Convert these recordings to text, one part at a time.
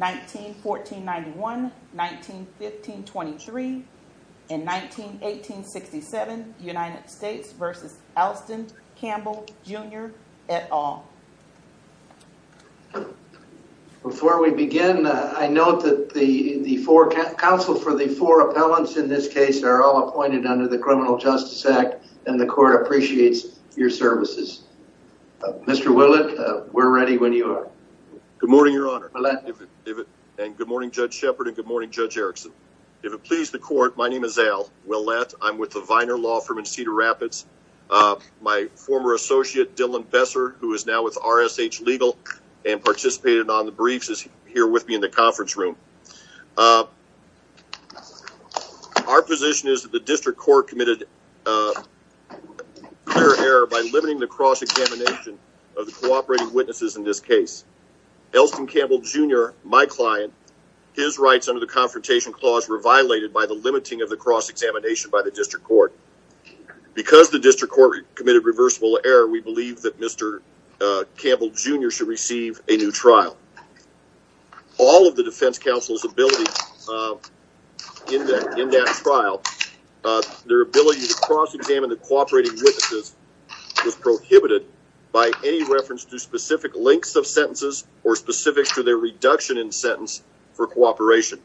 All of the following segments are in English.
1914-91, 1915-23, and 1918-67 United States v. Alston Campbell, Jr. et al. Before we begin, I note that the four counsel for the four appellants in this case are all appointed under the Criminal Justice Act and the court appreciates your services. Mr. Willett, we're ready when you are. Good morning, Your Honor, and good morning, Judge Shepard, and good morning, Judge Erickson. If it pleases the court, my name is Al Willett. I'm with the Viner Law Firm in Cedar Rapids. My former associate, Dylan Besser, who is now with RSH Legal and participated on the briefs, is here with me in the conference room. Our position is that the district court committed clear error by limiting the cross-examination of the cooperating witnesses in this case. Alston Campbell, Jr., my client, his rights under the Confrontation Clause were violated by the limiting of the cross-examination by the district court. Because the district court committed reversible error, we believe that Mr. Campbell, Jr. should receive a new trial. All of the defense counsel's ability in that trial, their ability to cross-examine the cooperating witnesses was prohibited by any reference to specific lengths of sentences or specifics to their reduction in sentence for cooperation.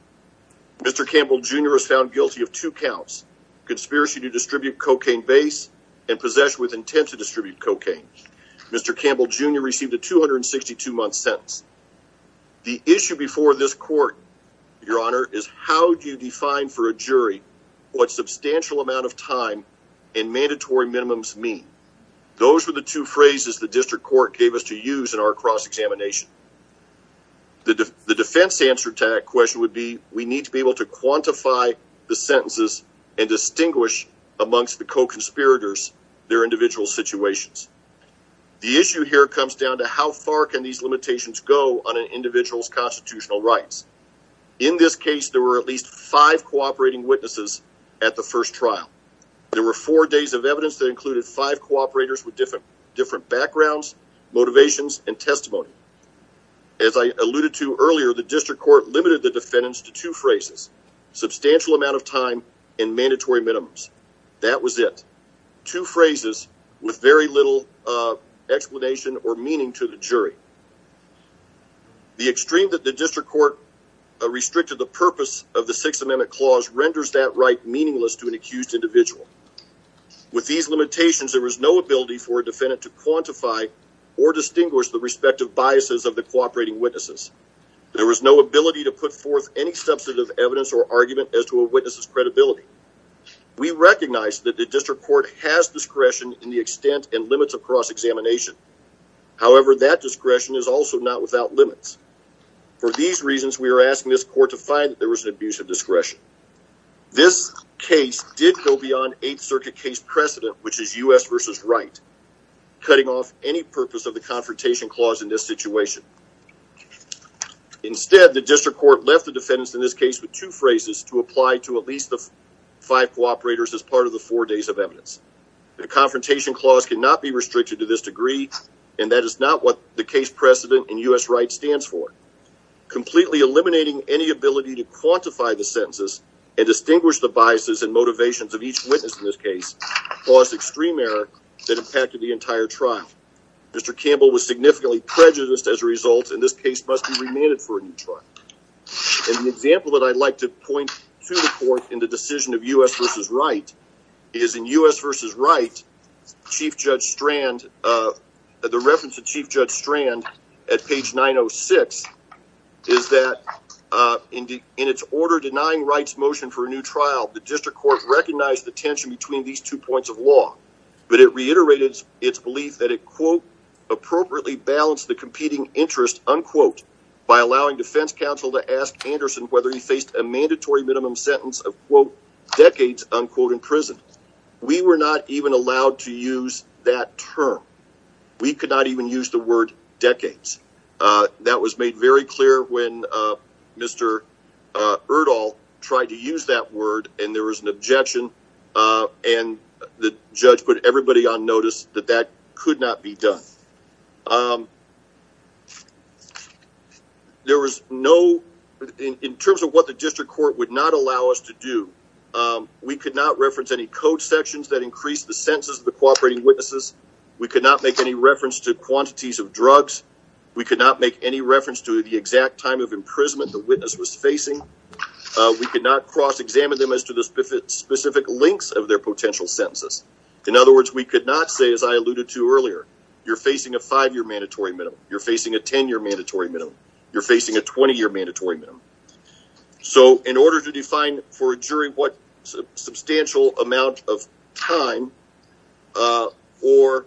Mr. Campbell, Jr. was found guilty of two counts, conspiracy to distribute cocaine base and possession with intent to distribute The issue before this court, your honor, is how do you define for a jury what substantial amount of time and mandatory minimums mean? Those were the two phrases the district court gave us to use in our cross-examination. The defense answer to that question would be we need to be able to quantify the sentences and distinguish amongst the co-conspirators their individual situations. The issue here comes down to how far can these limitations go on an individual's constitutional rights. In this case, there were at least five cooperating witnesses at the first trial. There were four days of evidence that included five cooperators with different backgrounds, motivations, and testimony. As I alluded to earlier, the district court limited the defendants to two phrases, substantial amount of time and mandatory minimums. That was it. Two phrases with very little explanation or meaning to the jury. The extreme that the district court restricted the purpose of the Sixth Amendment Clause renders that right meaningless to an accused individual. With these limitations, there was no ability for a defendant to quantify or distinguish the respective biases of the cooperating witnesses. There was no ability to put forth any substantive evidence or argument as to a witness's credibility. We recognize that the district court has discretion in the extent and limits of cross-examination. However, that discretion is also not without limits. For these reasons, we are asking this court to find that there was an abuse of discretion. This case did go beyond Eighth Circuit case precedent, which is U.S. v. Wright, cutting off any purpose of the Confrontation Clause in this situation. Instead, the district court left the defendants in this case with two phrases to apply to at least the five cooperators as part of the four days of evidence. The and that is not what the case precedent in U.S. Wright stands for. Completely eliminating any ability to quantify the sentences and distinguish the biases and motivations of each witness in this case caused extreme error that impacted the entire trial. Mr. Campbell was significantly prejudiced as a result, and this case must be remanded for a new trial. An example that I'd like to point to the court in the decision of U.S. v. Wright is in U.S. v. Wright, Chief Judge Strand The reference to Chief Judge Strand at page 906 is that in its order denying Wright's motion for a new trial, the district court recognized the tension between these two points of law, but it reiterated its belief that it, quote, appropriately balanced the competing interest, unquote, by allowing defense counsel to ask Anderson whether he faced a mandatory minimum sentence of, quote, decades, unquote, in prison. We were not even allowed to use that term. We could not even use the word decades. That was made very clear when Mr. Erdahl tried to use that word, and there was an objection, and the judge put everybody on notice that that could not be done. There was no, in terms of what the district court would not allow us to do, we could not reference any code sections that increased the sentences of the cooperating witnesses. We could not make any reference to quantities of drugs. We could not make any reference to the exact time of imprisonment the witness was facing. We could not cross-examine them as to the specific lengths of their potential sentences. In other words, we could not say, as I alluded to earlier, you're facing a five-year mandatory minimum. You're facing a 10-year mandatory minimum. You're facing a 20-year mandatory minimum. So, in order to define for a jury what substantial amount of time or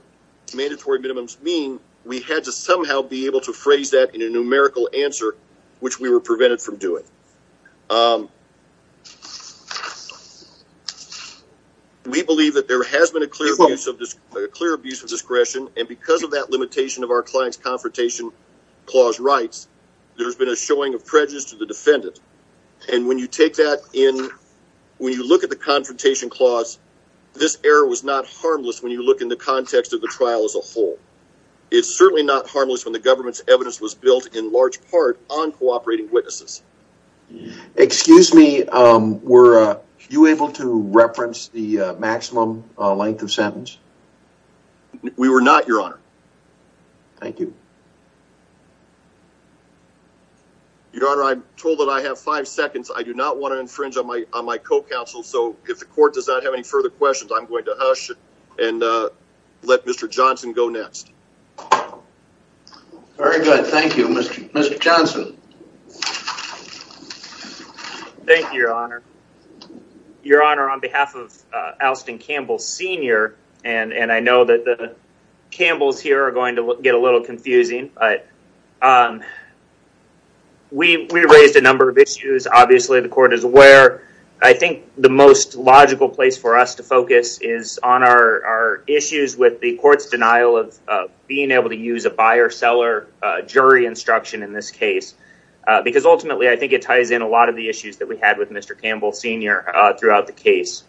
mandatory minimums mean, we had to somehow be able to phrase that in a numerical answer, which we were prevented from doing. We believe that there has been a clear abuse of discretion, and because of that limitation of our client's confrontation clause rights, there's been a showing of prejudice to the defendant, and when you take that in, when you look at the confrontation clause, this error was not harmless when you look in the context of the trial as a whole. It's certainly not harmless when the government's evidence was built, in large part, on cooperating witnesses. Excuse me, were you able to reference the maximum length of sentence? We were not, your honor. Thank you. Your honor, I'm told that I have five seconds. I do not want to infringe on my co-counsel, so if the court does not have any further questions, I'm going to hush and let Mr. Johnson go next. Very good. Thank you, Mr. Johnson. Thank you, your honor. Your honor, on behalf of Alston Campbell Sr., and I know that the confusing, but we raised a number of issues. Obviously, the court is aware. I think the most logical place for us to focus is on our issues with the court's denial of being able to use a buyer-seller jury instruction in this case, because ultimately, I think it ties in a lot of the issues that we had with Mr. Campbell Sr. throughout the case.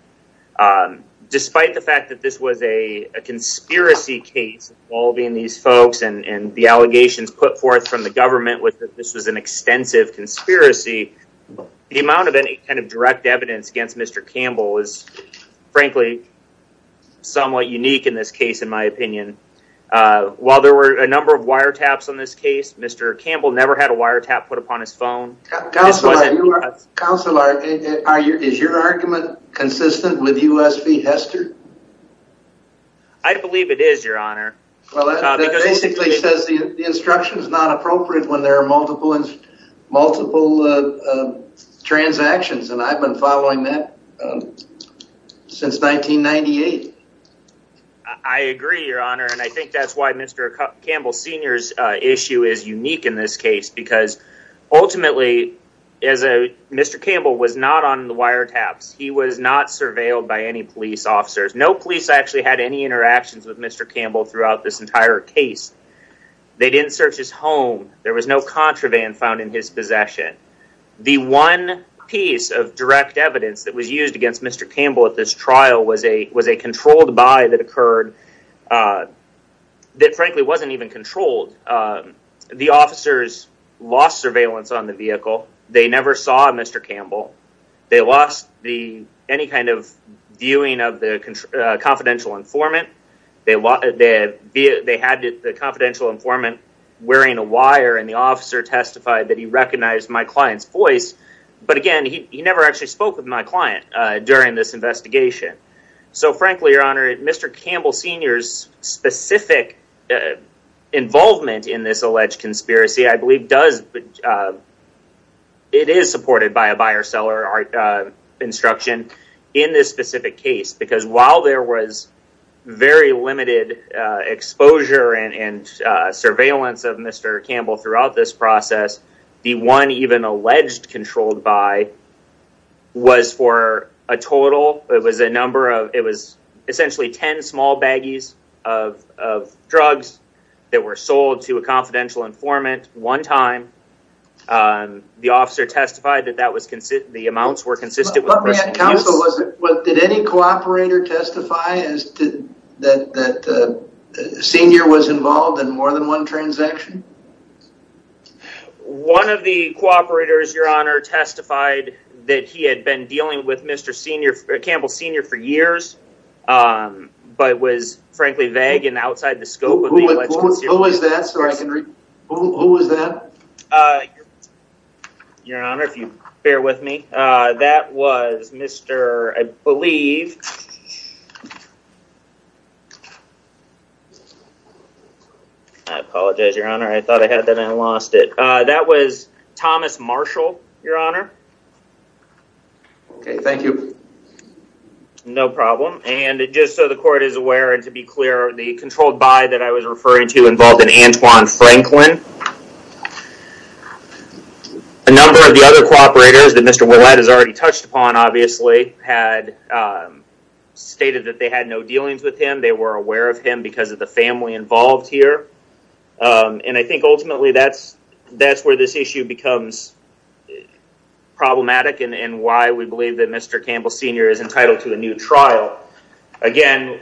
Despite the fact that this was a conspiracy case involving these folks and the allegations put forth from the government was that this was an extensive conspiracy, the amount of any kind of direct evidence against Mr. Campbell is frankly somewhat unique in this case, in my opinion. While there were a number of wiretaps on this case, Mr. Campbell never had a wiretap put upon his phone. Counselor, is your argument consistent with U.S. v. Hester? I believe it is, your honor. Well, that basically says the instruction is not appropriate when there are multiple transactions, and I've been following that since 1998. I agree, your honor, and I think that's why Mr. Campbell Sr.'s issue is unique in this case, because ultimately, Mr. Campbell was not on the wiretaps. He was not surveilled by any police officers. No police actually had any interactions with Mr. Campbell throughout this entire case. They didn't search his home. There was no contraband found in his possession. The one piece of direct evidence that was used against Mr. Campbell at this trial was a controlled buy that occurred that frankly wasn't even controlled. The officers lost surveillance on the vehicle. They never saw Mr. Campbell. They lost any kind of viewing of the confidential informant. They had the confidential informant wearing a wire, and the officer testified that he recognized my client's voice, but again, he never actually spoke with my client during this trial. So, I think that Mr. Campbell Sr.'s specific involvement in this alleged conspiracy, I believe it is supported by a buyer-seller instruction in this specific case, because while there was very limited exposure and surveillance of Mr. Campbell throughout this process, the one even alleged controlled buy was for a total, it was a number of, it was essentially 10 small baggies of drugs that were sold to a confidential informant one time. The officer testified that that was, the amounts were consistent with- Did any cooperator testify that Sr. was involved in more than one transaction? One of the cooperators, Your Honor, testified that he had been dealing with Mr. Senior, Campbell Sr. for years, but was frankly vague and outside the scope of the alleged conspiracy. Who was that? Sorry, Henry. Who was that? Your Honor, if you bear with me, that was Mr., I believe, I apologize, Your Honor. I thought I had that and lost it. That was Thomas Marshall, Your Honor. Okay, thank you. No problem, and just so the court is aware and to be clear, the controlled buy that I was referring to involved an Antoine Franklin. A number of the other cooperators that Mr. Ouellette has already touched upon, obviously, had stated that they had no dealings with him. They were aware of him because of the family involved here, and I think ultimately that's where this issue becomes problematic and why we believe that Mr. Campbell Sr. is entitled to a new trial. Again,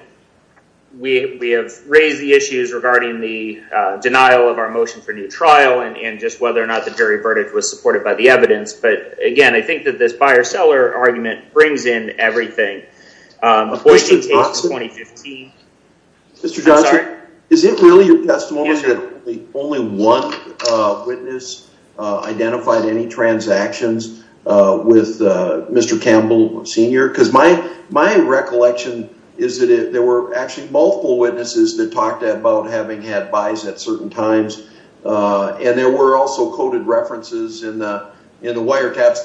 we have raised the issues regarding the denial of our motion for new trial and just whether or not the jury verdict was supported by the evidence, but again, I think that this buyer-seller argument brings in everything. Mr. Johnson, is it really your testimony that only one witness identified any transactions with Mr. Campbell Sr.? Because my recollection is that there were actually multiple witnesses that talked about having had buys at certain times, and there were also coded references in the wiretaps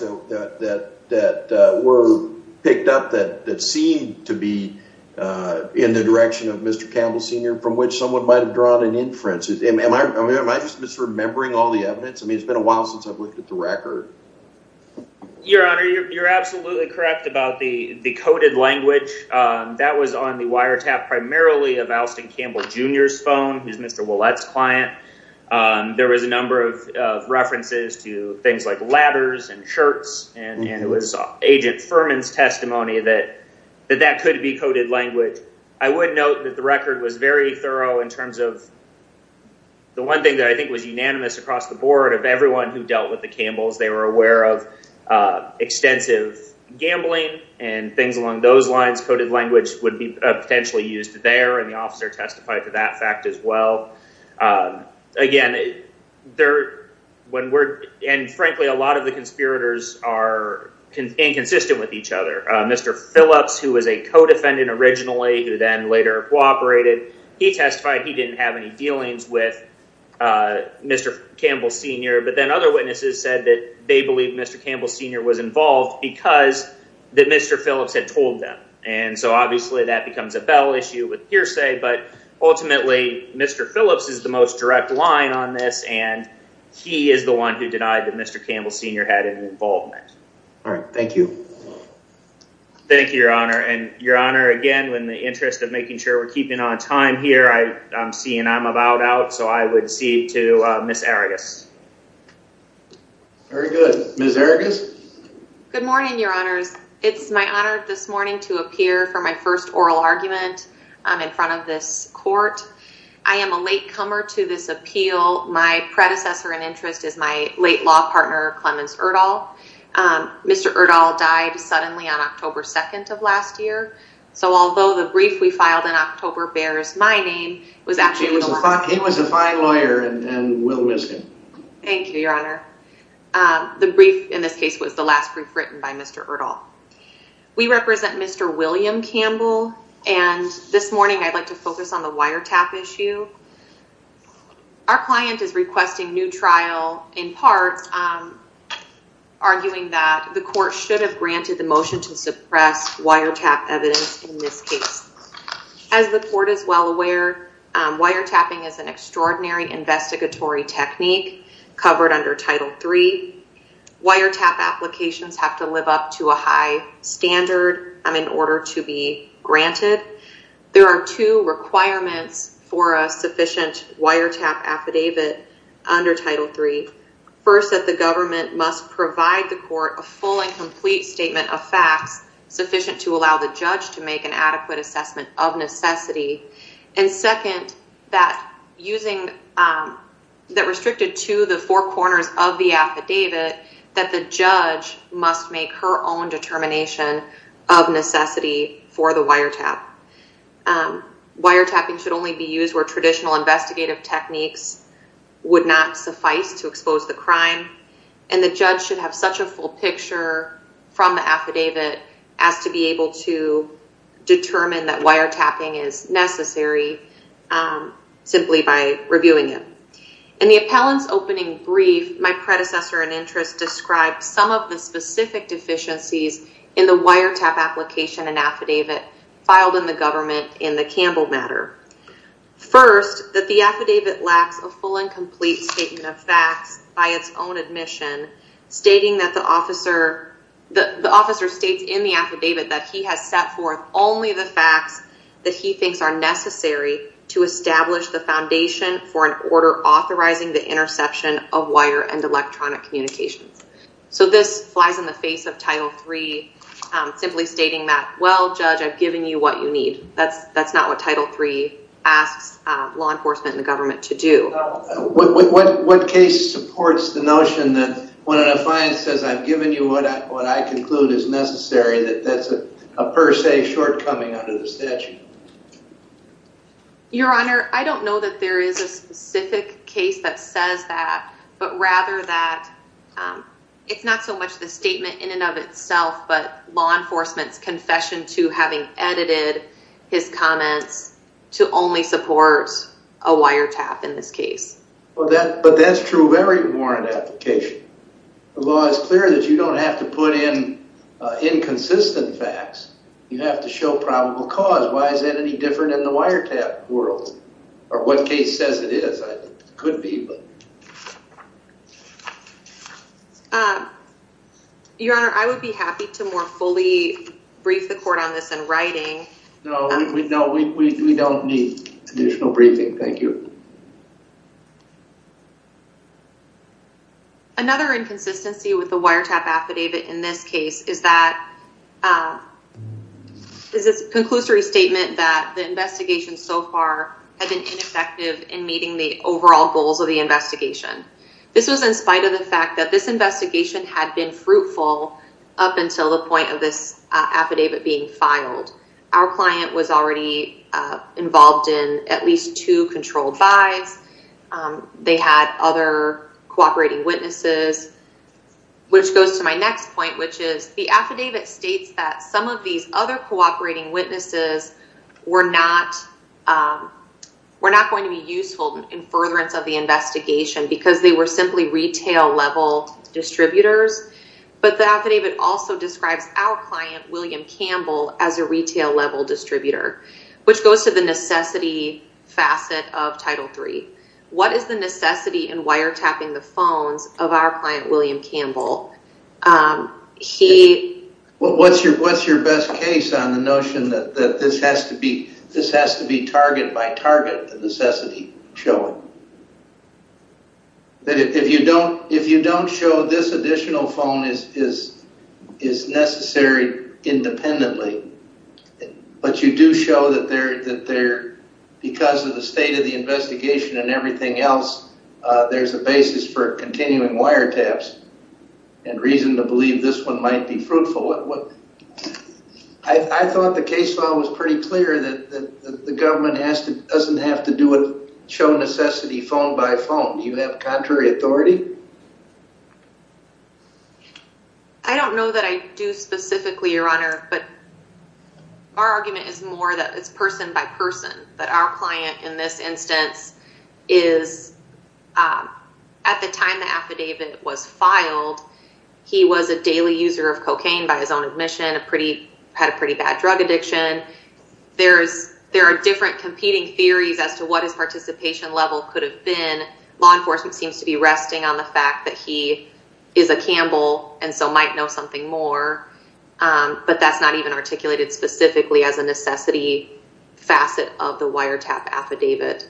that were picked up that seemed to be in the direction of Mr. Campbell Sr., from which someone might have drawn an inference. Am I just misremembering all the evidence? I mean, it's been a while since I've looked at the record. Your Honor, you're absolutely correct about the coded language. That was on the wiretap primarily of Alston Campbell Jr.'s phone. He's Mr. Ouellette's son. There was a number of references to things like ladders and shirts, and it was Agent Furman's testimony that that could be coded language. I would note that the record was very thorough in terms of the one thing that I think was unanimous across the board of everyone who dealt with the Campbells. They were aware of extensive gambling and things along those lines. Coded language would be potentially used there, and the officer testified to that fact as well. Again, frankly, a lot of the conspirators are inconsistent with each other. Mr. Phillips, who was a co-defendant originally who then later cooperated, he testified he didn't have any dealings with Mr. Campbell Sr., but then other witnesses said that they believed Mr. Campbell Sr. was involved because Mr. Phillips had told them, and so obviously that becomes a bell issue with hearsay, but ultimately Mr. Phillips is the most direct line on this, and he is the one who denied that Mr. Campbell Sr. had any involvement. All right. Thank you. Thank you, Your Honor, and Your Honor, again, in the interest of making sure we're keeping on time here, I'm seeing I'm about out, so I would cede to Ms. Arrigus. Very good. Ms. Arrigus? Good morning, Your Honors. It's my honor this morning to appear for my first oral argument in front of this court. I am a latecomer to this appeal. My predecessor in interest is my late law partner, Clemens Erdahl. Mr. Erdahl died suddenly on October 2nd of last year, so although the brief we filed in October bears my name, it was actually a lie. Ms. Erdahl? Thank you, Your Honor. The brief in this case was the last brief written by Mr. Erdahl. We represent Mr. William Campbell, and this morning I'd like to focus on the wiretap issue. Our client is requesting new trial in part, arguing that the court should have granted the motion to suppress wiretap evidence in this case. As the court is well aware, wiretapping is an extraordinary investigatory technique covered under Title III. Wiretap applications have to live up to a high standard in order to be granted. There are two requirements for a sufficient wiretap affidavit under Title III. First, that the government must provide the court a full and complete statement of facts sufficient to allow the judge to make an adequate assessment of necessity. And second, that restricted to the four corners of the affidavit, that the judge must make her own determination of necessity for the wiretap. Wiretapping should only be used where traditional investigative techniques would not suffice to expose the crime, and the judge should have such a full picture from the affidavit as to be able to determine that wiretapping is necessary simply by reviewing it. In the appellant's opening brief, my predecessor in interest described some of the specific deficiencies in the wiretap application and affidavit filed in the government in the Campbell matter. First, that the affidavit lacks a full and complete statement of facts by its own admission, stating that the officer states in the affidavit that he has set forth only the facts that he thinks are necessary to establish the foundation for an order authorizing the interception of wire and electronic communications. So this flies in the face of Title III, simply stating that, well, judge, I've given you what you need. That's not what Title III asks law enforcement and the government to do. What case supports the notion that when an affiant says I've given you what I conclude is necessary, that that's a per se shortcoming under the statute? Your Honor, I don't know that there is a specific case that says that, but rather that it's not so much the statement in and of itself, but law enforcement's confession to having edited his comments to only support a wiretap in this case. But that's true of every warrant application. The law is clear that you don't have to put in inconsistent facts. You have to show probable cause. Why is that any different in the wiretap world? Or what case says it is? It could be. Your Honor, I would be happy to more fully brief the court on this in writing. No, no, we don't need additional briefing. Thank you. Another inconsistency with the wiretap affidavit in this case is that, is this a conclusory statement that the investigation so far had been ineffective in meeting the overall goals of the investigation? This was in spite of the fact that this investigation had been fruitful up until the point of this affidavit being filed. Our client was already involved in at least two controlled buys. They had other cooperating witnesses, which goes to my next point, which is the affidavit states that some of these other cooperating witnesses were not going to be useful in furtherance of the investigation because they were simply retail-level distributors. But the affidavit also describes our client, William Campbell, as a retail-level distributor, which goes to the necessity facet of Title III. What is the necessity in wiretapping the phones of our client, William Campbell? Well, what's your best case on the notion that this has to be target by target, the necessity showing? If you don't show this additional phone is necessary independently, but you do show that because of the state of the investigation and everything else, there's a basis for and reason to believe this one might be fruitful. I thought the case law was pretty clear that the government doesn't have to do it, show necessity phone by phone. Do you have contrary authority? I don't know that I do specifically, Your Honor, but our argument is more that it's that our client in this instance is, at the time the affidavit was filed, he was a daily user of cocaine by his own admission, had a pretty bad drug addiction. There are different competing theories as to what his participation level could have been. Law enforcement seems to be resting on the fact that he is a Campbell and so might know something more, but that's not even articulated specifically as a necessity facet of the wiretap affidavit.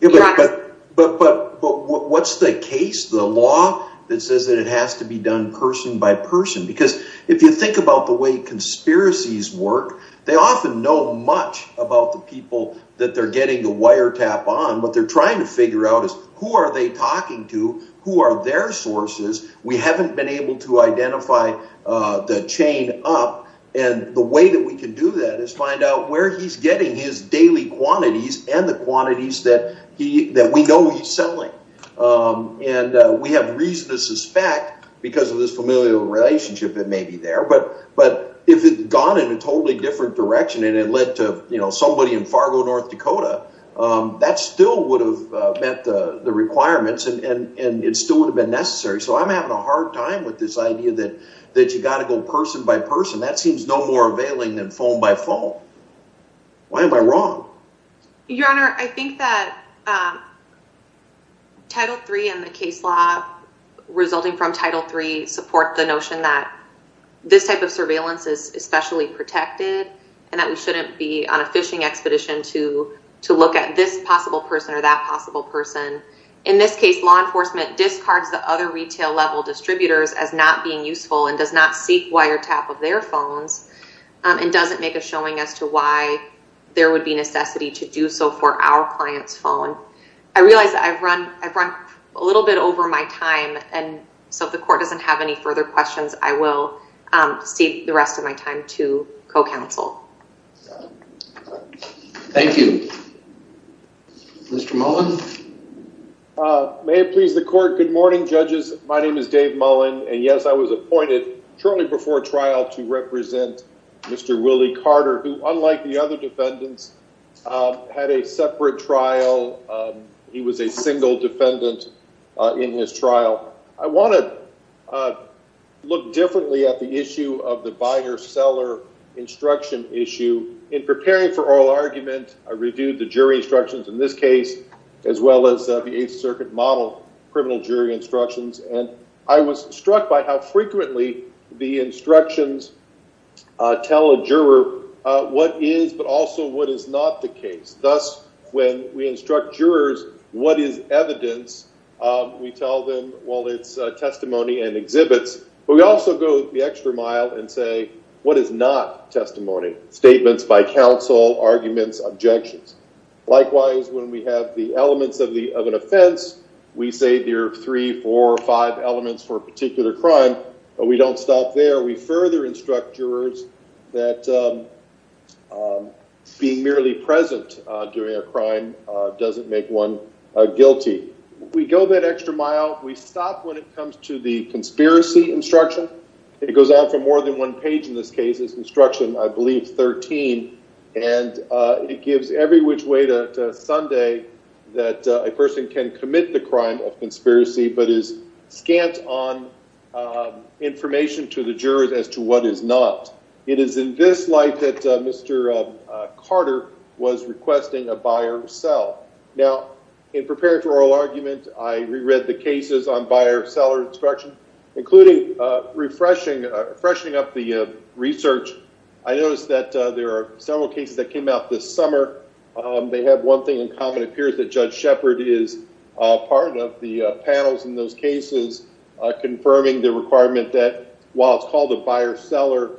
But what's the case, the law that says that it has to be done person by person? Because if you think about the way conspiracies work, they often know much about the people that they're getting the wiretap on. What they're trying to figure out is who are they talking to? Who are their sources? We haven't been able to identify the chain up. The way that we can do that is find out where he's getting his daily quantities and the quantities that we know he's selling. We have reason to suspect, because of this familial relationship that may be there, but if it had gone in a totally different direction and it led to somebody in Fargo, North Dakota, that still would have met the requirements and it still would have been necessary. So I'm having a hard time with this idea that you got to go person by person. That seems no more availing than phone by phone. Why am I wrong? Your Honor, I think that Title III and the case law resulting from Title III support the notion that this type of look at this possible person or that possible person. In this case, law enforcement discards the other retail level distributors as not being useful and does not seek wiretap of their phones and doesn't make a showing as to why there would be necessity to do so for our client's phone. I realize that I've run a little bit over my time, and so if the court doesn't have any further questions, I will save the rest of my time to co-counsel. Thank you. Mr. Mullen? May it please the court. Good morning, judges. My name is Dave Mullen, and yes, I was appointed shortly before trial to represent Mr. Willie Carter, who, unlike the other defendants, had a separate trial. He was a single defendant in his trial. I want to look differently at the issue of the buyer-seller instruction issue. In preparing for oral argument, I reviewed the jury instructions in this case, as well as the Eighth Circuit model criminal jury instructions, and I was struck by how frequently the instructions tell a juror what is but also what is not the case. Thus, when we instruct jurors what is evidence, we tell them, well, it's testimony and exhibits, but we also go the extra mile and say, what is not testimony? Statements by counsel, arguments, objections. Likewise, when we have the elements of an offense, we say there are three, four, or five elements for a particular crime, but we don't stop there. We further instruct jurors that being merely present during a crime doesn't make one guilty. We go that extra mile. We stop when it comes to the conspiracy instruction. It goes out for more than one page in this case. It's instruction, I believe, 13, and it gives every which way to Sunday that a person can commit the crime of conspiracy but is scant on information to the jurors as to what is not. It is in this light that Mr. Carter was requesting a buyer sell. Now, in preparing for oral argument, I reread the cases on buyer seller instruction, including refreshing up the research. I noticed that there are several cases that came out this summer. They have one thing in common. It appears that Judge Shepard is part of the panels in those cases confirming the requirement that while it's called a buyer seller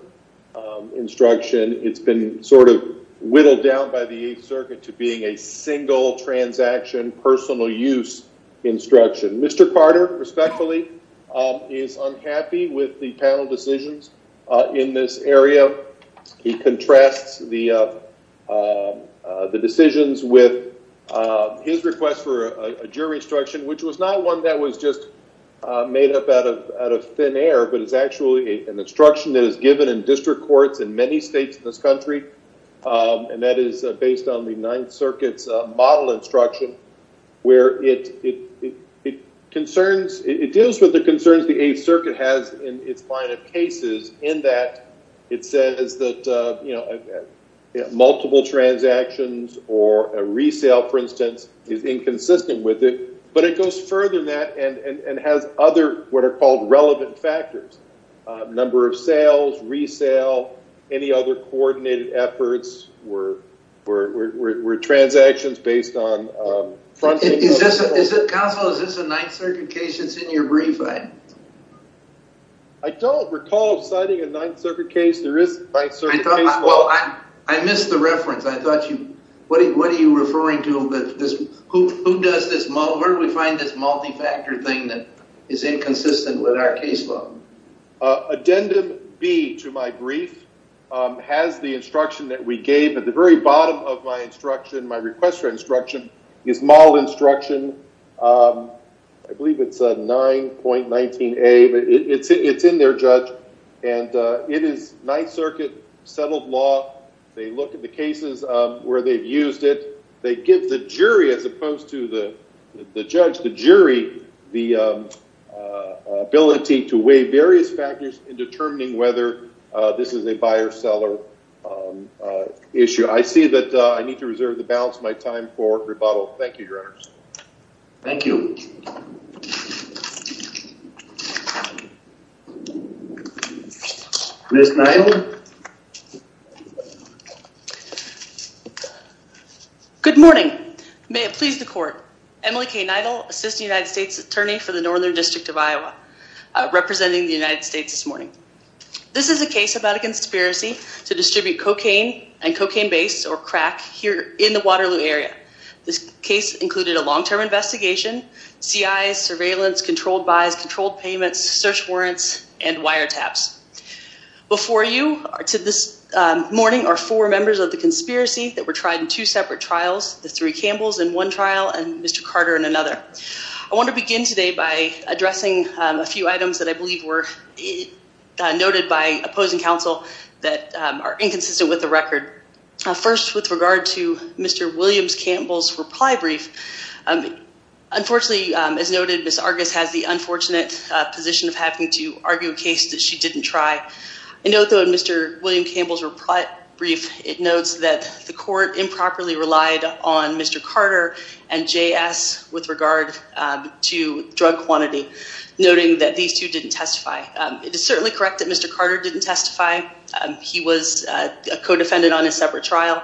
instruction, it's been sort of whittled down by the Eighth Circuit to being a single transaction personal use instruction. Mr. Carter, respectfully, is unhappy with the panel decisions in this area. He contrasts the decisions with his request for a jury instruction, which was not one that was just made up out of thin air, but it's actually an instruction that is given in district courts in many states in this country, and that is based on the Ninth Circuit's model instruction, where it deals with the concerns the Eighth Circuit has in its line of cases, in that it says that multiple transactions or a resale, for instance, is inconsistent with it, but it goes further than that and has other what are called relevant factors. Number of sales, resale, any other coordinated efforts, where transactions based on... Counselor, is this a Ninth Circuit case that's in your brief? I don't recall citing a Ninth Circuit case. There is a Ninth Circuit case. Well, I missed the reference. What are you referring to? Who does this model? Where do we find this multi-factor thing that is inconsistent with our case law? Addendum B to my brief has the instruction that we gave at the very bottom of my instruction, my request for instruction, is model instruction. I believe it's 9.19A, but it's in there, Judge, and it is Ninth Circuit settled law. They look at the cases where they've used it. They give the jury the ability to weigh various factors in determining whether this is a buyer-seller issue. I see that I need to reserve the balance of my time for rebuttal. Thank you, Your Honors. Thank you. Ms. Neidl. Good morning. May it please the Court. Emily K. Neidl, Assistant United States Attorney for the Northern District of Iowa, representing the United States this morning. This is a case about a conspiracy to distribute cocaine and cocaine-based, or crack, here in the Waterloo area. This case included a long-term investigation, CIs, surveillance, controlled buys, controlled payments, search warrants, and wiretaps. Before you, to this morning, are four members of the conspiracy that were tried in two separate trials, the three Campbells in one trial and Mr. Carter in another. I want to begin today by addressing a few items that I believe were noted by opposing counsel that are inconsistent with the record. First, with regard to Mr. Williams Campbell's reply brief, unfortunately, as noted, Ms. Argus has the unfortunate position of having to argue a case that she didn't try. In Mr. Williams Campbell's reply brief, it notes that the court improperly relied on Mr. Carter and J.S. with regard to drug quantity, noting that these two didn't testify. It is certainly correct that Mr. Carter didn't testify. He was a co-defendant on a separate trial.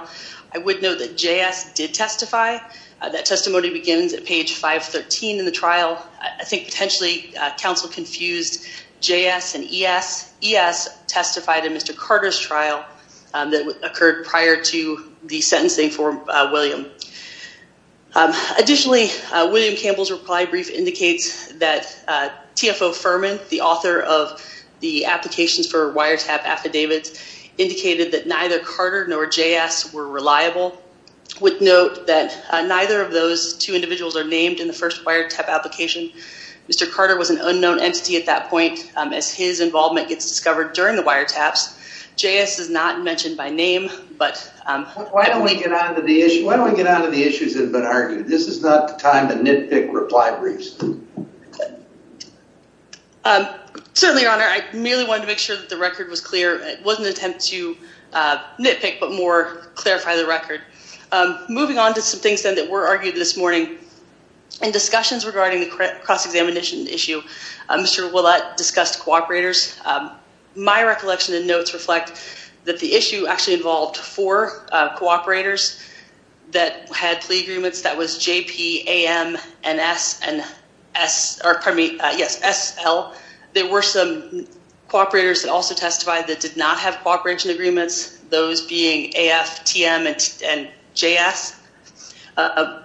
I would note that J.S. did testify. That testimony begins at page 513 in the trial. I think potentially counsel confused J.S. and E.S. E.S. testified in Mr. Carter's trial that occurred prior to the sentencing for William. Additionally, William Campbell's reply brief indicates that TFO Furman, the author of the applications for wiretap affidavits, indicated that neither Carter nor J.S. were reliable. I would note that neither of those two individuals are named in the first wiretap application. Mr. Carter was an unknown entity at that point. As his involvement gets discovered during the wiretaps, J.S. is not mentioned by name, but... Why don't we get on to the issue? Why don't we get on to the issues that have been argued? This is not the time to nitpick reply briefs. Certainly, your honor, I merely wanted to make sure that the record was clear. It wasn't an attempt to nitpick, but more clarify the record. Moving on to some things then that were argued this morning in discussions regarding the cross-examination issue, Mr. Ouellette discussed cooperators. My recollection and notes reflect that the issue actually involved four cooperators that had plea agreements. That was JP, AM, and SL. There were some cooperators that also testified that did not have cooperation agreements, those being AF, TM, and JS. I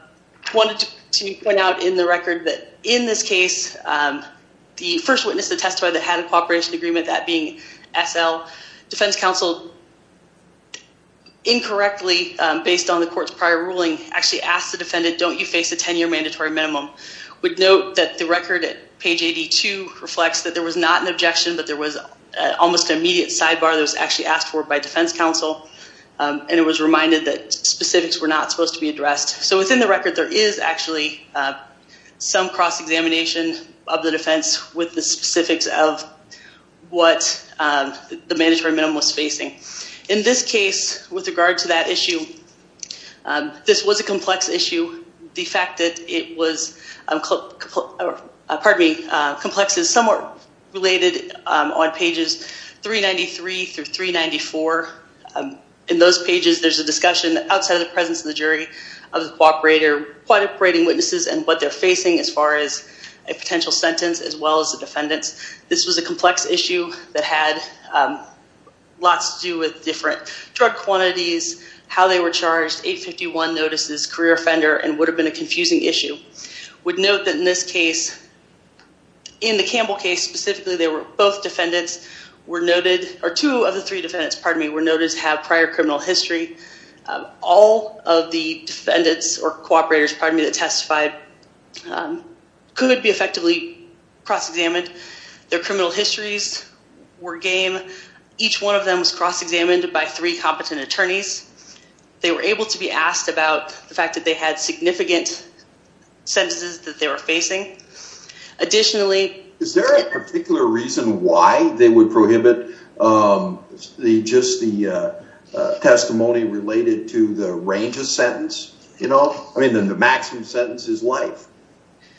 wanted to point out in the record that in this case, the first witness to testify that had a cooperation agreement, that being SL, defense counsel incorrectly, based on the court's prior ruling, actually asked the defendant, don't you face a 10-year mandatory minimum? We'd note that the record at page 82 reflects that there was not an objection, but there was almost an immediate sidebar that was actually asked for by defense counsel. It was reminded that specifics were not supposed to be addressed. Within the record, there is actually some cross-examination of the defense with the specifics of what the mandatory minimum was facing. In this case, with regard to that issue, this was a complex issue. The fact that it was, pardon me, complex is somewhat related on pages 393 through 394. In those pages, there's a discussion outside of the presence of the jury of the cooperator, quite operating witnesses, and what they're facing as far as a potential sentence as well as the defendants. This was a complex issue that had lots to do with different drug quantities, how they were charged, 851 notices, career offender, and would have been a confusing issue. We'd note that in this case, in the Campbell case specifically, both defendants were noted, or two of the three defendants, pardon me, were noted to have prior criminal history. All of the defendants or cooperators, pardon me, that testified could be effectively cross-examined. Their criminal histories were game. Each one of them was cross-examined by three competent attorneys. They were able to be asked about the fact that they had significant sentences that they were facing. Additionally... Is there a particular reason why they would prohibit just the testimony related to the range of sentence? I mean, the maximum sentence is life.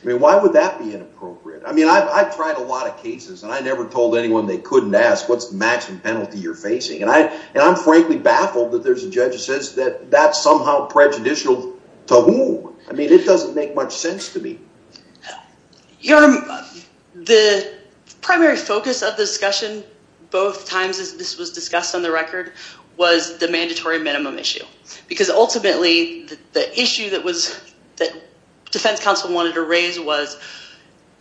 I mean, why would that be inappropriate? I mean, I've tried a lot of cases, and I never told anyone they couldn't ask, what's the maximum penalty you're facing? I'm frankly baffled that there's a judge that says that that's somehow prejudicial to whom? I mean, it doesn't make much sense to me. The primary focus of the discussion both times, as this was discussed on the record, was the issue that Defense Counsel wanted to raise was,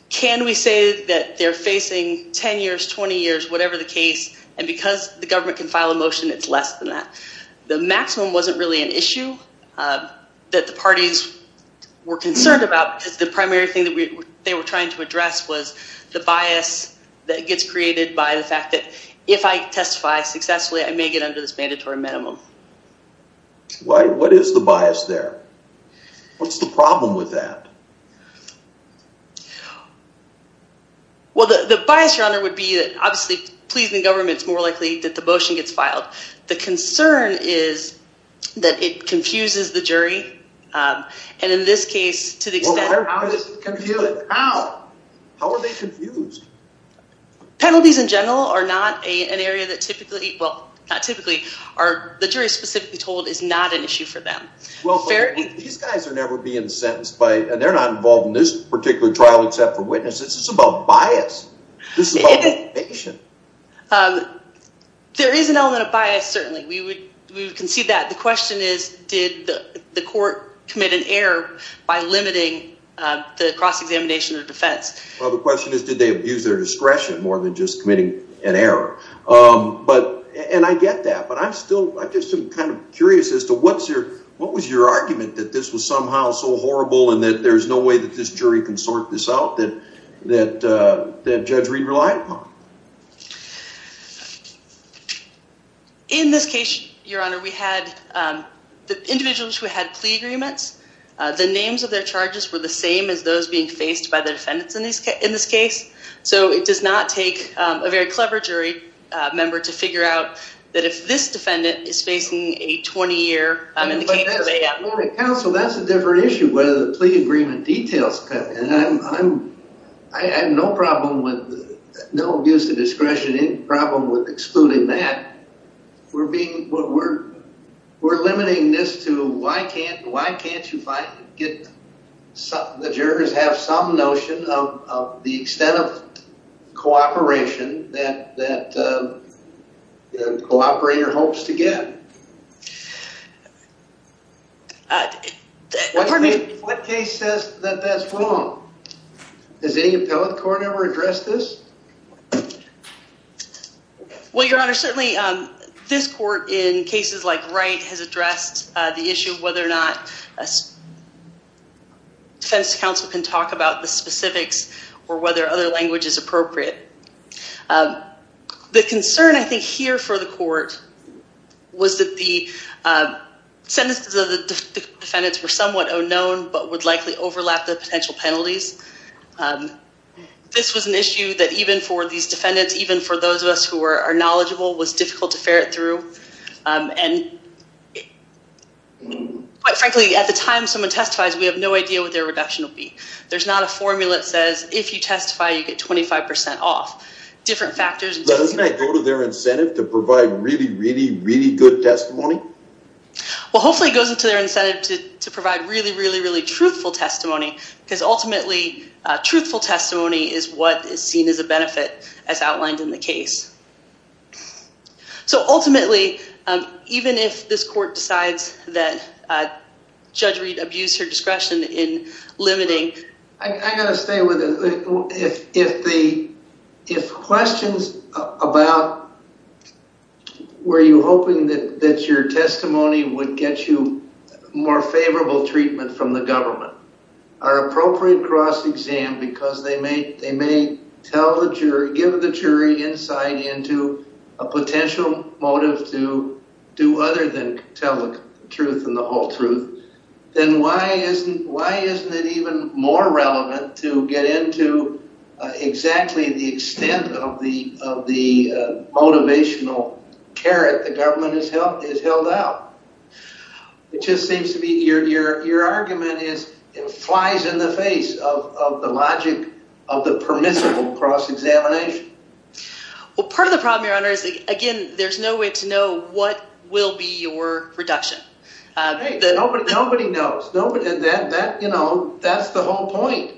can we say that they're facing 10 years, 20 years, whatever the case, and because the government can file a motion, it's less than that? The maximum wasn't really an issue that the parties were concerned about because the primary thing that they were trying to address was the bias that gets created by the fact that if I testify successfully, I may get under this mandatory minimum. Why? What is the bias there? What's the problem with that? Well, the bias, Your Honor, would be that obviously, pleasing the government's more likely that the motion gets filed. The concern is that it confuses the jury, and in this case, to the extent- How is it confusing? How? How are they confused? Penalties in general are not an area that typically, well, not typically, the jury is specifically told is not an issue for them. These guys are never being sentenced by, and they're not involved in this particular trial, except for witnesses. It's about bias. This is about motivation. There is an element of bias, certainly. We would concede that. The question is, did the court commit an error by limiting the cross-examination of defense? Well, the question is, did they abuse their discretion more than just committing an error? But, and I get that, but I'm still, I'm just kind of curious as to what's your, what was your argument that this was somehow so horrible and that there's no way that this jury can sort this out that Judge Reed relied upon? In this case, Your Honor, we had the individuals who had plea agreements. The names of their charges were the same as those being faced by the defendants in this case, so it does not take a very clever jury member to figure out that if this defendant is facing a 20-year in the case of A.M. Well, the counsel, that's a different issue, whether the plea agreement details that. I have no problem with, no abuse of discretion, any problem with excluding that. We're being, we're limiting this to why can't, why can't you get, some, the jurors have some notion of the extent of cooperation that, that cooperator hopes to get. Pardon me? What case says that that's wrong? Has any appellate court ever addressed this? Well, Your Honor, certainly this court in cases like Wright has addressed the issue of whether or not a defense counsel can talk about the specifics or whether other language is appropriate. The concern I think here for the court was that the sentences of the defendants were somewhat unknown but would likely overlap the potential penalties. This was an issue that even for these defendants, even for those of us who are knowledgeable, was difficult to ferret through. And quite frankly, at the time someone testifies, we have no idea what their reduction will be. There's not a formula that says if you testify, you get 25% off. Different factors. Doesn't that go to their incentive to provide really, really, really good testimony? Well, hopefully it goes into their incentive to provide really, really, really truthful testimony because ultimately, truthful testimony is what is seen as a benefit as outlined in the case. So ultimately, even if this court decides that Judge Reed abused her discretion in limiting... I got to stay with it. If questions about were you hoping that your testimony would get you more favorable treatment from the government are appropriate cross-exam because they may tell the jury, give the jury insight into a potential motive to do other than tell the truth and the whole truth, then why isn't it even more relevant to get into exactly the extent of the motivational carrot the government has held out? It just seems to be your argument is it flies in the face of the logic of the permissible cross-examination. Well, part of the problem, Your Honor, is again, there's no way to know what will be your reduction. Nobody knows. That's the whole point.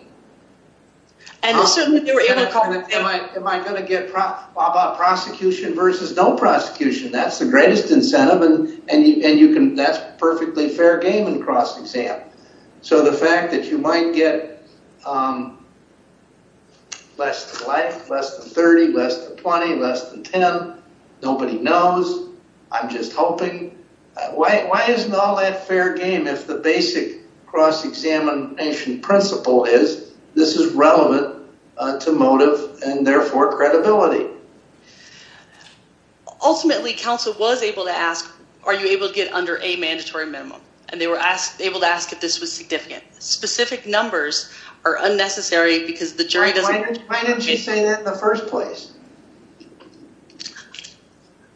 Am I going to get prosecution versus no prosecution? That's the greatest incentive and that's perfectly fair game in cross-exam. So the fact that you might get less than 30, less than 20, less than 10. Nobody knows. I'm just hoping. Why isn't all that fair game if the basic cross-examination principle is this is relevant to motive and therefore credibility? Ultimately, counsel was able to ask, are you able to get under a mandatory minimum? And they were able to ask if this was significant. Specific numbers are unnecessary because the jury doesn't... Why didn't you say that in the first place?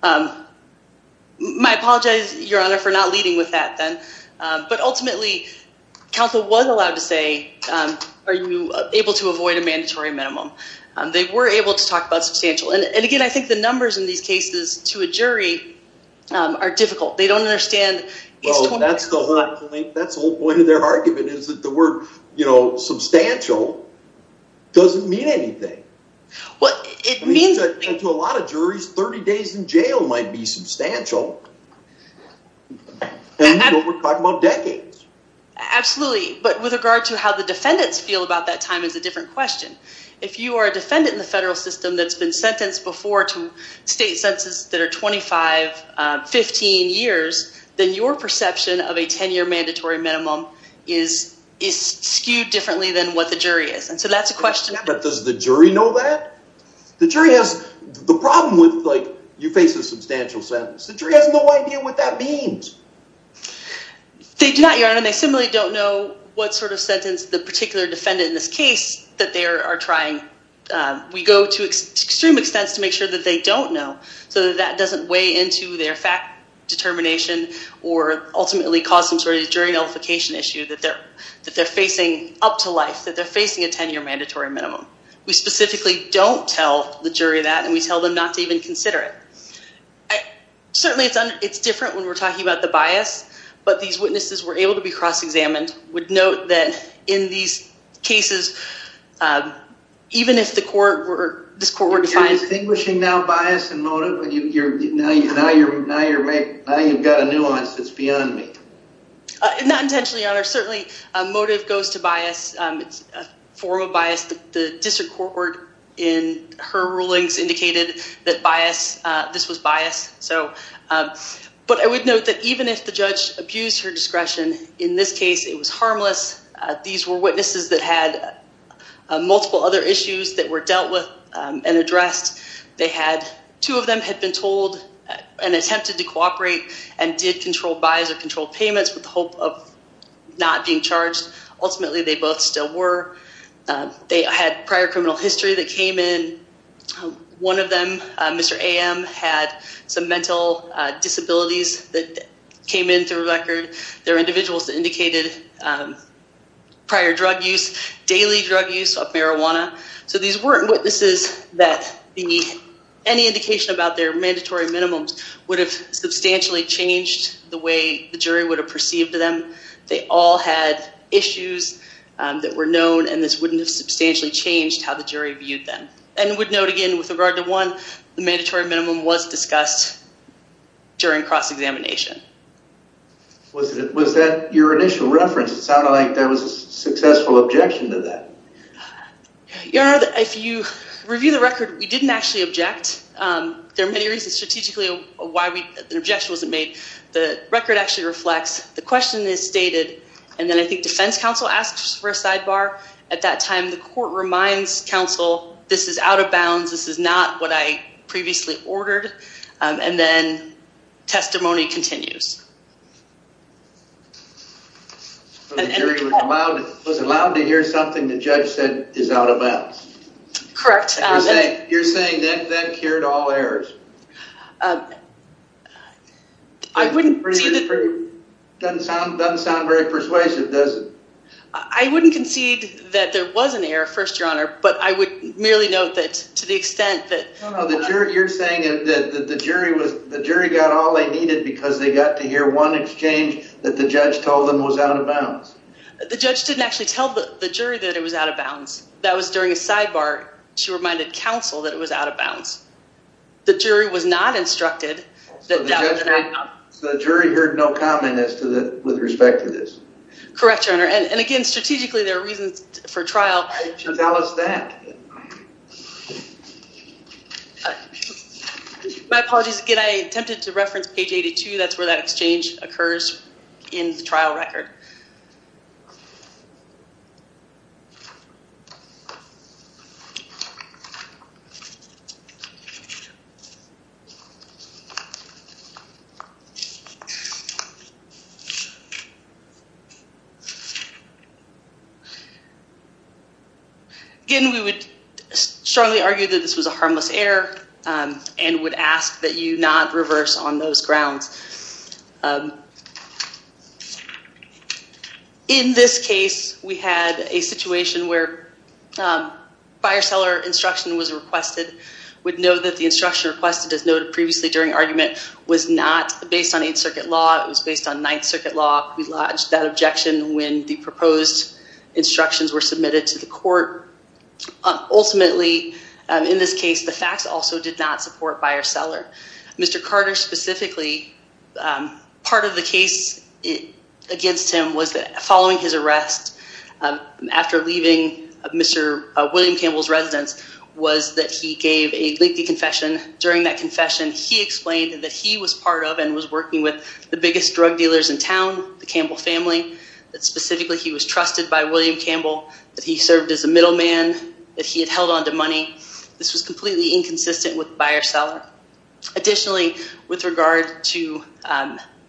I apologize, Your Honor, for not leading with that then. But ultimately, counsel was allowed to say, are you able to avoid a mandatory minimum? They were able to talk about substantial. And again, I think the numbers in these cases to a jury are difficult. They don't understand. Well, that's the whole point of their argument is that the word, you know, substantial doesn't mean anything. And to a lot of juries, 30 days in jail might be substantial. And we're talking about decades. Absolutely. But with regard to how the defendants feel about that time is a different question. If you are a defendant in the federal system that's been sentenced before to state census that are 25, 15 years, then your perception of a 10-year mandatory minimum is skewed differently than what the jury is. And so that's a question. But does the jury know that? The jury has the problem with like you face a substantial sentence. The jury has no idea what that means. They do not, Your Honor. They similarly don't know what sort of sentence the particular defendant in this case that they are trying. We go to extreme extents to make sure that they don't know. So that doesn't weigh into their fact determination or ultimately cause some sort of jury nullification issue that they're facing up to life, that they're facing a 10-year mandatory minimum. We specifically don't tell the jury that. And we tell them not to even consider it. Certainly, it's different when we're talking about the bias. But these witnesses were able to be cross-examined. I would note that in these cases, even if the court were, this court were defined. You're distinguishing now bias and motive. Now you've got a nuance that's beyond me. Not intentionally, Your Honor. Certainly, motive goes to bias. It's a form of bias. The district court in her rulings indicated that bias, this was bias. But I would note that even if the judge abused her discretion, in this case, it was harmless. These were witnesses that had multiple other issues that were dealt with and addressed. Two of them had been told and attempted to cooperate and did control bias or control payments with the hope of not being charged. Ultimately, they both still were. They had prior criminal history that came in. One of them, Mr. AM, had some mental disabilities that came in through a record. There were individuals that indicated prior drug use, daily drug use of marijuana. So these weren't witnesses that any indication about their mandatory minimums would have substantially changed the way the jury would have perceived them. They all had issues that were known, and this wouldn't have substantially changed how the jury viewed them. And I would note again, with regard to one, the mandatory minimum was discussed during cross-examination. Was that your initial reference? It sounded like there was a successful objection to that. Your Honor, if you review the record, we didn't actually object. There are many reasons strategically why an objection wasn't made. The record actually reflects. The question is stated, and then I think defense counsel asks for a sidebar. At that time, the court reminds counsel, this is out of bounds. This is not what I previously ordered. And then testimony continues. The jury was allowed to hear something the judge said is out of bounds. Correct. You're saying that cured all errors? I wouldn't. Doesn't sound very persuasive, does it? I wouldn't concede that there was an error, First Your Honor, but I would merely note that to the extent that. You're saying that the jury got all they needed because they got to hear one exchange that the judge told them was out of bounds. The judge didn't actually tell the jury that it was out of bounds. That was during a sidebar. She reminded counsel that it was out of bounds. The jury was not instructed. So the jury heard no comment with respect to this? Correct, Your Honor. And again, strategically, there are reasons for trial. Why didn't you tell us that? My apologies. Again, I attempted to reference page 82. That's where that exchange occurs in the trial record. Again, we would strongly argue that this was a harmless error. And would ask that you not reverse on those grounds. In this case, we had a situation where fire seller instruction was requested. We'd know that the instruction requested as noted previously during argument was not based on Eighth Circuit law. It was based on Ninth Circuit law. We lodged that objection when the proposed instructions were submitted to the court. Ultimately, in this case, the facts also did not support fire seller. Mr. Carter specifically, part of the case against him was that following his arrest, after leaving Mr. William Campbell's residence, was that he gave a lengthy confession. During that confession, he explained that he was part of and was working with the biggest drug dealers in town, the Campbell family, that specifically he was trusted by William Campbell, that he served as a middleman, that he had held onto money. This was completely inconsistent with fire seller. Additionally, with regard to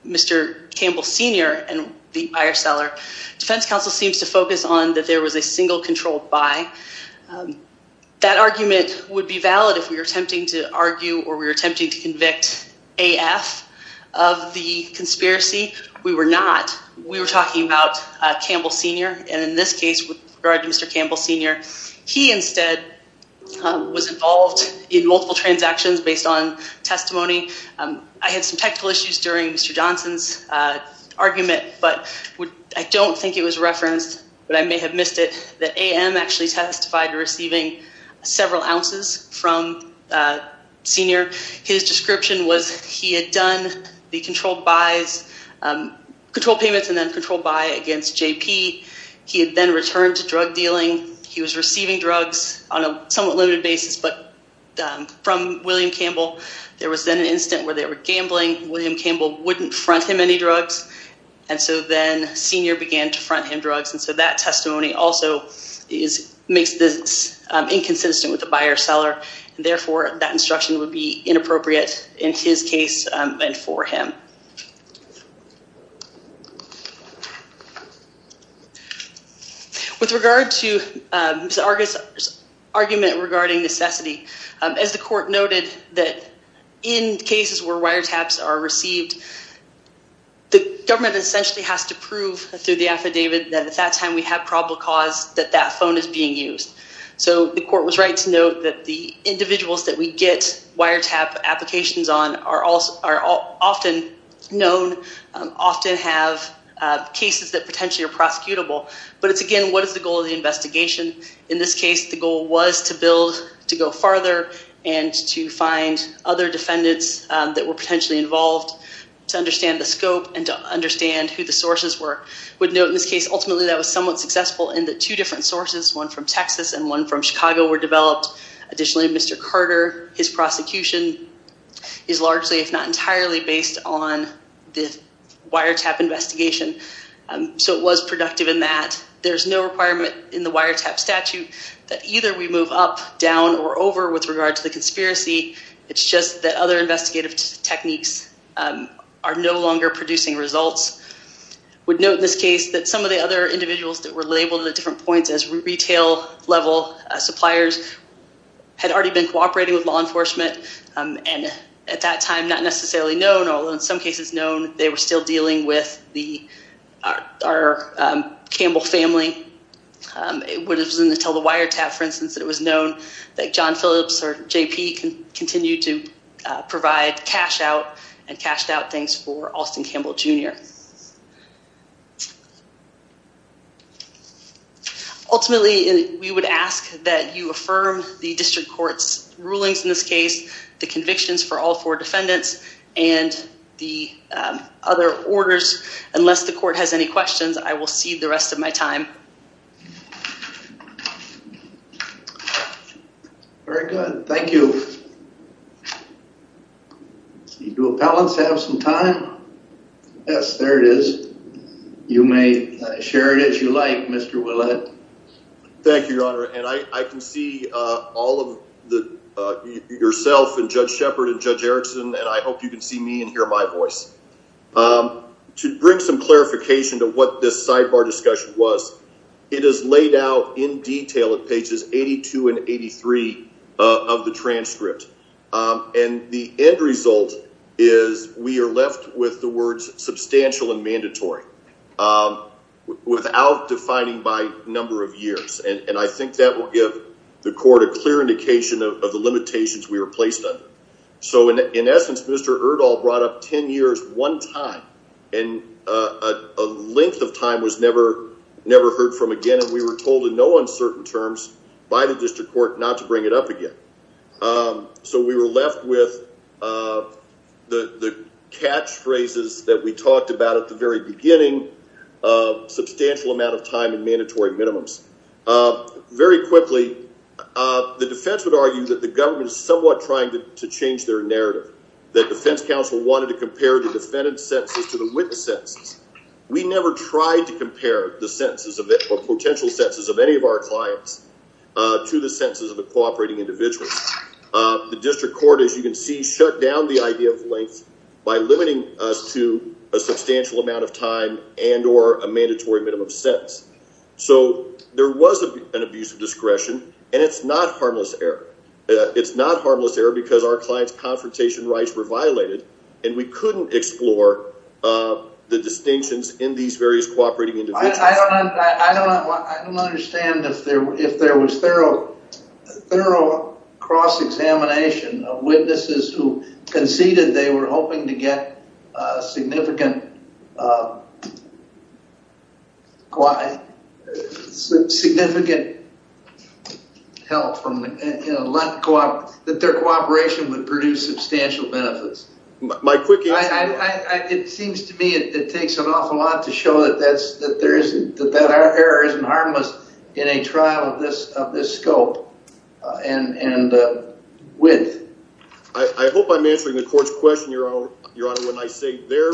Mr. Campbell Sr. and the fire seller, defense counsel seems to focus on that there was a single controlled buy. That argument would be valid if we were attempting to argue or we were attempting to convict AF of the conspiracy. We were not. We were talking about Campbell Sr. and in this case, with regard to Mr. Campbell Sr., he instead was involved in multiple transactions based on testimony. I had some technical issues during Mr. Johnson's argument, but I don't think it was referenced, but I may have missed it, that AM actually testified to receiving several ounces from Sr. His description was he had done the controlled buys, controlled payments and then controlled buy against JP. He had then returned to drug dealing. He was receiving drugs on a somewhat limited basis, but from William Campbell, there was then an incident where they were gambling. William Campbell wouldn't front him any drugs. And so then Sr. began to front him drugs. And so that testimony also makes this inconsistent with the buyer-seller. Therefore, that instruction would be inappropriate in his case and for him. With regard to Mr. Argus' argument regarding necessity, as the court noted that in cases where wiretaps are received, the government essentially has to prove through the affidavit that at that time we have probable cause that that phone is being used. So the court was right to note that the individuals that we get wiretap applications on are also are often known to have wiretaps. Often have cases that potentially are prosecutable. But it's again, what is the goal of the investigation? In this case, the goal was to build, to go farther, and to find other defendants that were potentially involved to understand the scope and to understand who the sources were. Would note in this case, ultimately, that was somewhat successful in the two different sources, one from Texas and one from Chicago were developed. Additionally, Mr. Carter, his prosecution is largely, if not entirely, based on the wiretap investigation. So it was productive in that there's no requirement in the wiretap statute that either we move up, down, or over with regard to the conspiracy. It's just that other investigative techniques are no longer producing results. Would note in this case that some of the other individuals that were labeled at different points as retail level suppliers had already been cooperating with law enforcement. And at that time, not necessarily known, although in some cases known, they were still dealing with our Campbell family. It would have been to tell the wiretap, for instance, that it was known that John Phillips or JP can continue to provide cash out and cashed out things for Austin Campbell Jr. Ultimately, we would ask that you affirm the district court's rulings in this case the convictions for all four defendants and the other orders. Unless the court has any questions, I will cede the rest of my time. Very good. Thank you. Do appellants have some time? Yes, there it is. You may share it as you like, Mr. Willett. Thank you, Your Honor. And I can see all of the yourself and Judge Shepard and Judge Erickson, and I hope you can see me and hear my voice. To bring some clarification to what this sidebar discussion was, it is laid out in detail at pages 82 and 83 of the transcript. And the end result is we are left with the words substantial and mandatory without defining by number of years. And I think that will give the court a clear indication of the limitations we were placed under. So in essence, Mr. Erdahl brought up 10 years one time, and a length of time was never heard from again. And we were told in no uncertain terms by the district court not to bring it up again. So we were left with the catchphrases that we talked about at the very beginning, substantial amount of time and mandatory minimums. Very quickly, the defense would argue that the government is somewhat trying to change their narrative. That defense counsel wanted to compare the defendant's sentences to the witness' sentences. We never tried to compare the sentences or potential sentences of any of our clients to the sentences of the cooperating individuals. The district court, as you can see, shut down the idea of length by limiting us to a substantial amount of time and or a mandatory minimum sentence. So there was an abuse of discretion, and it's not harmless error. It's not harmless error because our client's confrontation rights were violated, and we couldn't explore the distinctions in these various cooperating individuals. I don't understand if there was thorough cross-examination of witnesses who conceded they were hoping to get significant help from, that their cooperation would produce substantial benefits. It seems to me it takes an awful lot to show that our error isn't harmless in a trial of this scope and width. I hope I'm answering the court's question, Your Honor, when I say their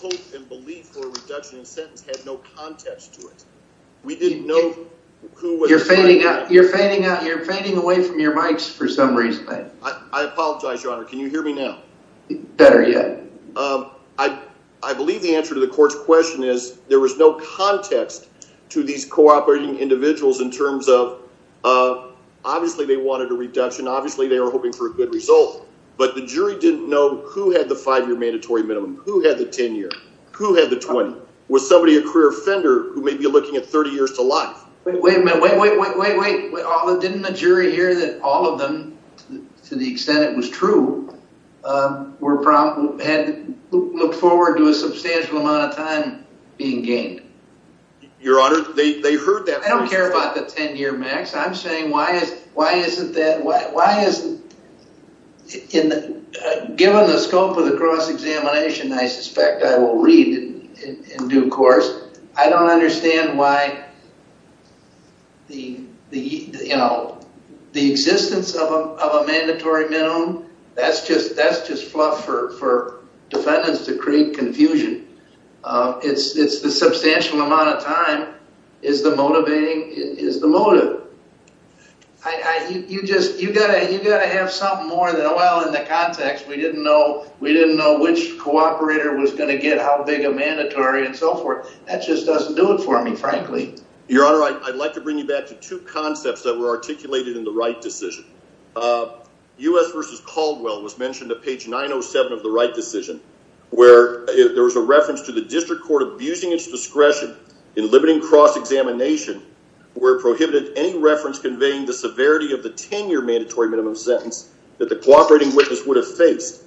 hope and belief for a reduction in sentence had no context to it. We didn't know who was... You're fading out. You're fading away from your mics for some reason. I apologize, Your Honor. Can you hear me now? Better yet. I believe the answer to the court's question is there was no context to these cooperating individuals in terms of, obviously, they wanted a reduction. Obviously, they were hoping for a good result. But the jury didn't know who had the five-year mandatory minimum. Who had the 10-year? Who had the 20? Was somebody a career offender who may be looking at 30 years to life? Wait a minute. Wait, wait, wait, wait, wait. Didn't the jury hear that all of them, to the extent it was true, looked forward to a substantial amount of time being gained? Your Honor, they heard that. I don't care about the 10-year max. I'm saying why isn't that... Given the scope of the cross-examination, I suspect I will read in due course. I don't understand why the existence of a mandatory minimum, that's just fluff for defendants to create confusion. It's the substantial amount of time is the motive. You've got to have something more than, well, in the context, we didn't know which cooperator was going to get how big a mandatory and so forth. That just doesn't do it for me, frankly. Your Honor, I'd like to bring you back to two concepts that were articulated in the Wright decision. U.S. v. Caldwell was mentioned at page 907 of the Wright decision where there was a reference to the district court abusing its discretion in limiting cross-examination where it prohibited any reference conveying the severity of the 10-year mandatory minimum sentence that the cooperating witness would have faced.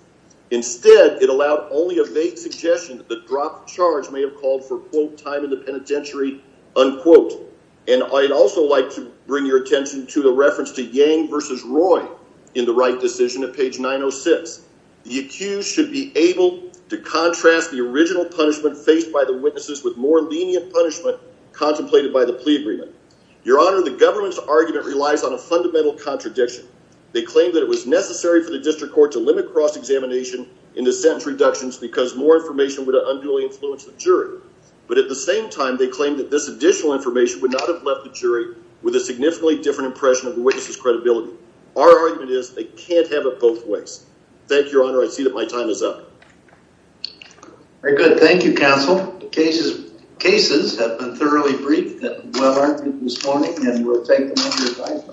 Instead, it allowed only a vague suggestion that the dropped charge may have called for quote, time in the penitentiary, unquote. And I'd also like to bring your attention to the reference to Yang v. Roy in the Wright decision at page 906. The accused should be able to contrast the original punishment faced by the witnesses with more lenient punishment contemplated by the plea agreement. Your Honor, the government's argument relies on a fundamental contradiction. They claim that it was necessary for the district court to limit cross-examination in the sentence reductions because more information would unduly influence the jury. But at the same time, they claim that this additional information would not have left the jury with a significantly different impression of the witness's credibility. Our argument is they can't have it both ways. Thank you, Your Honor. I see that my time is up. Very good. Thank you, counsel. The cases have been thoroughly briefed and well-argued this morning, and we'll take them under advisement.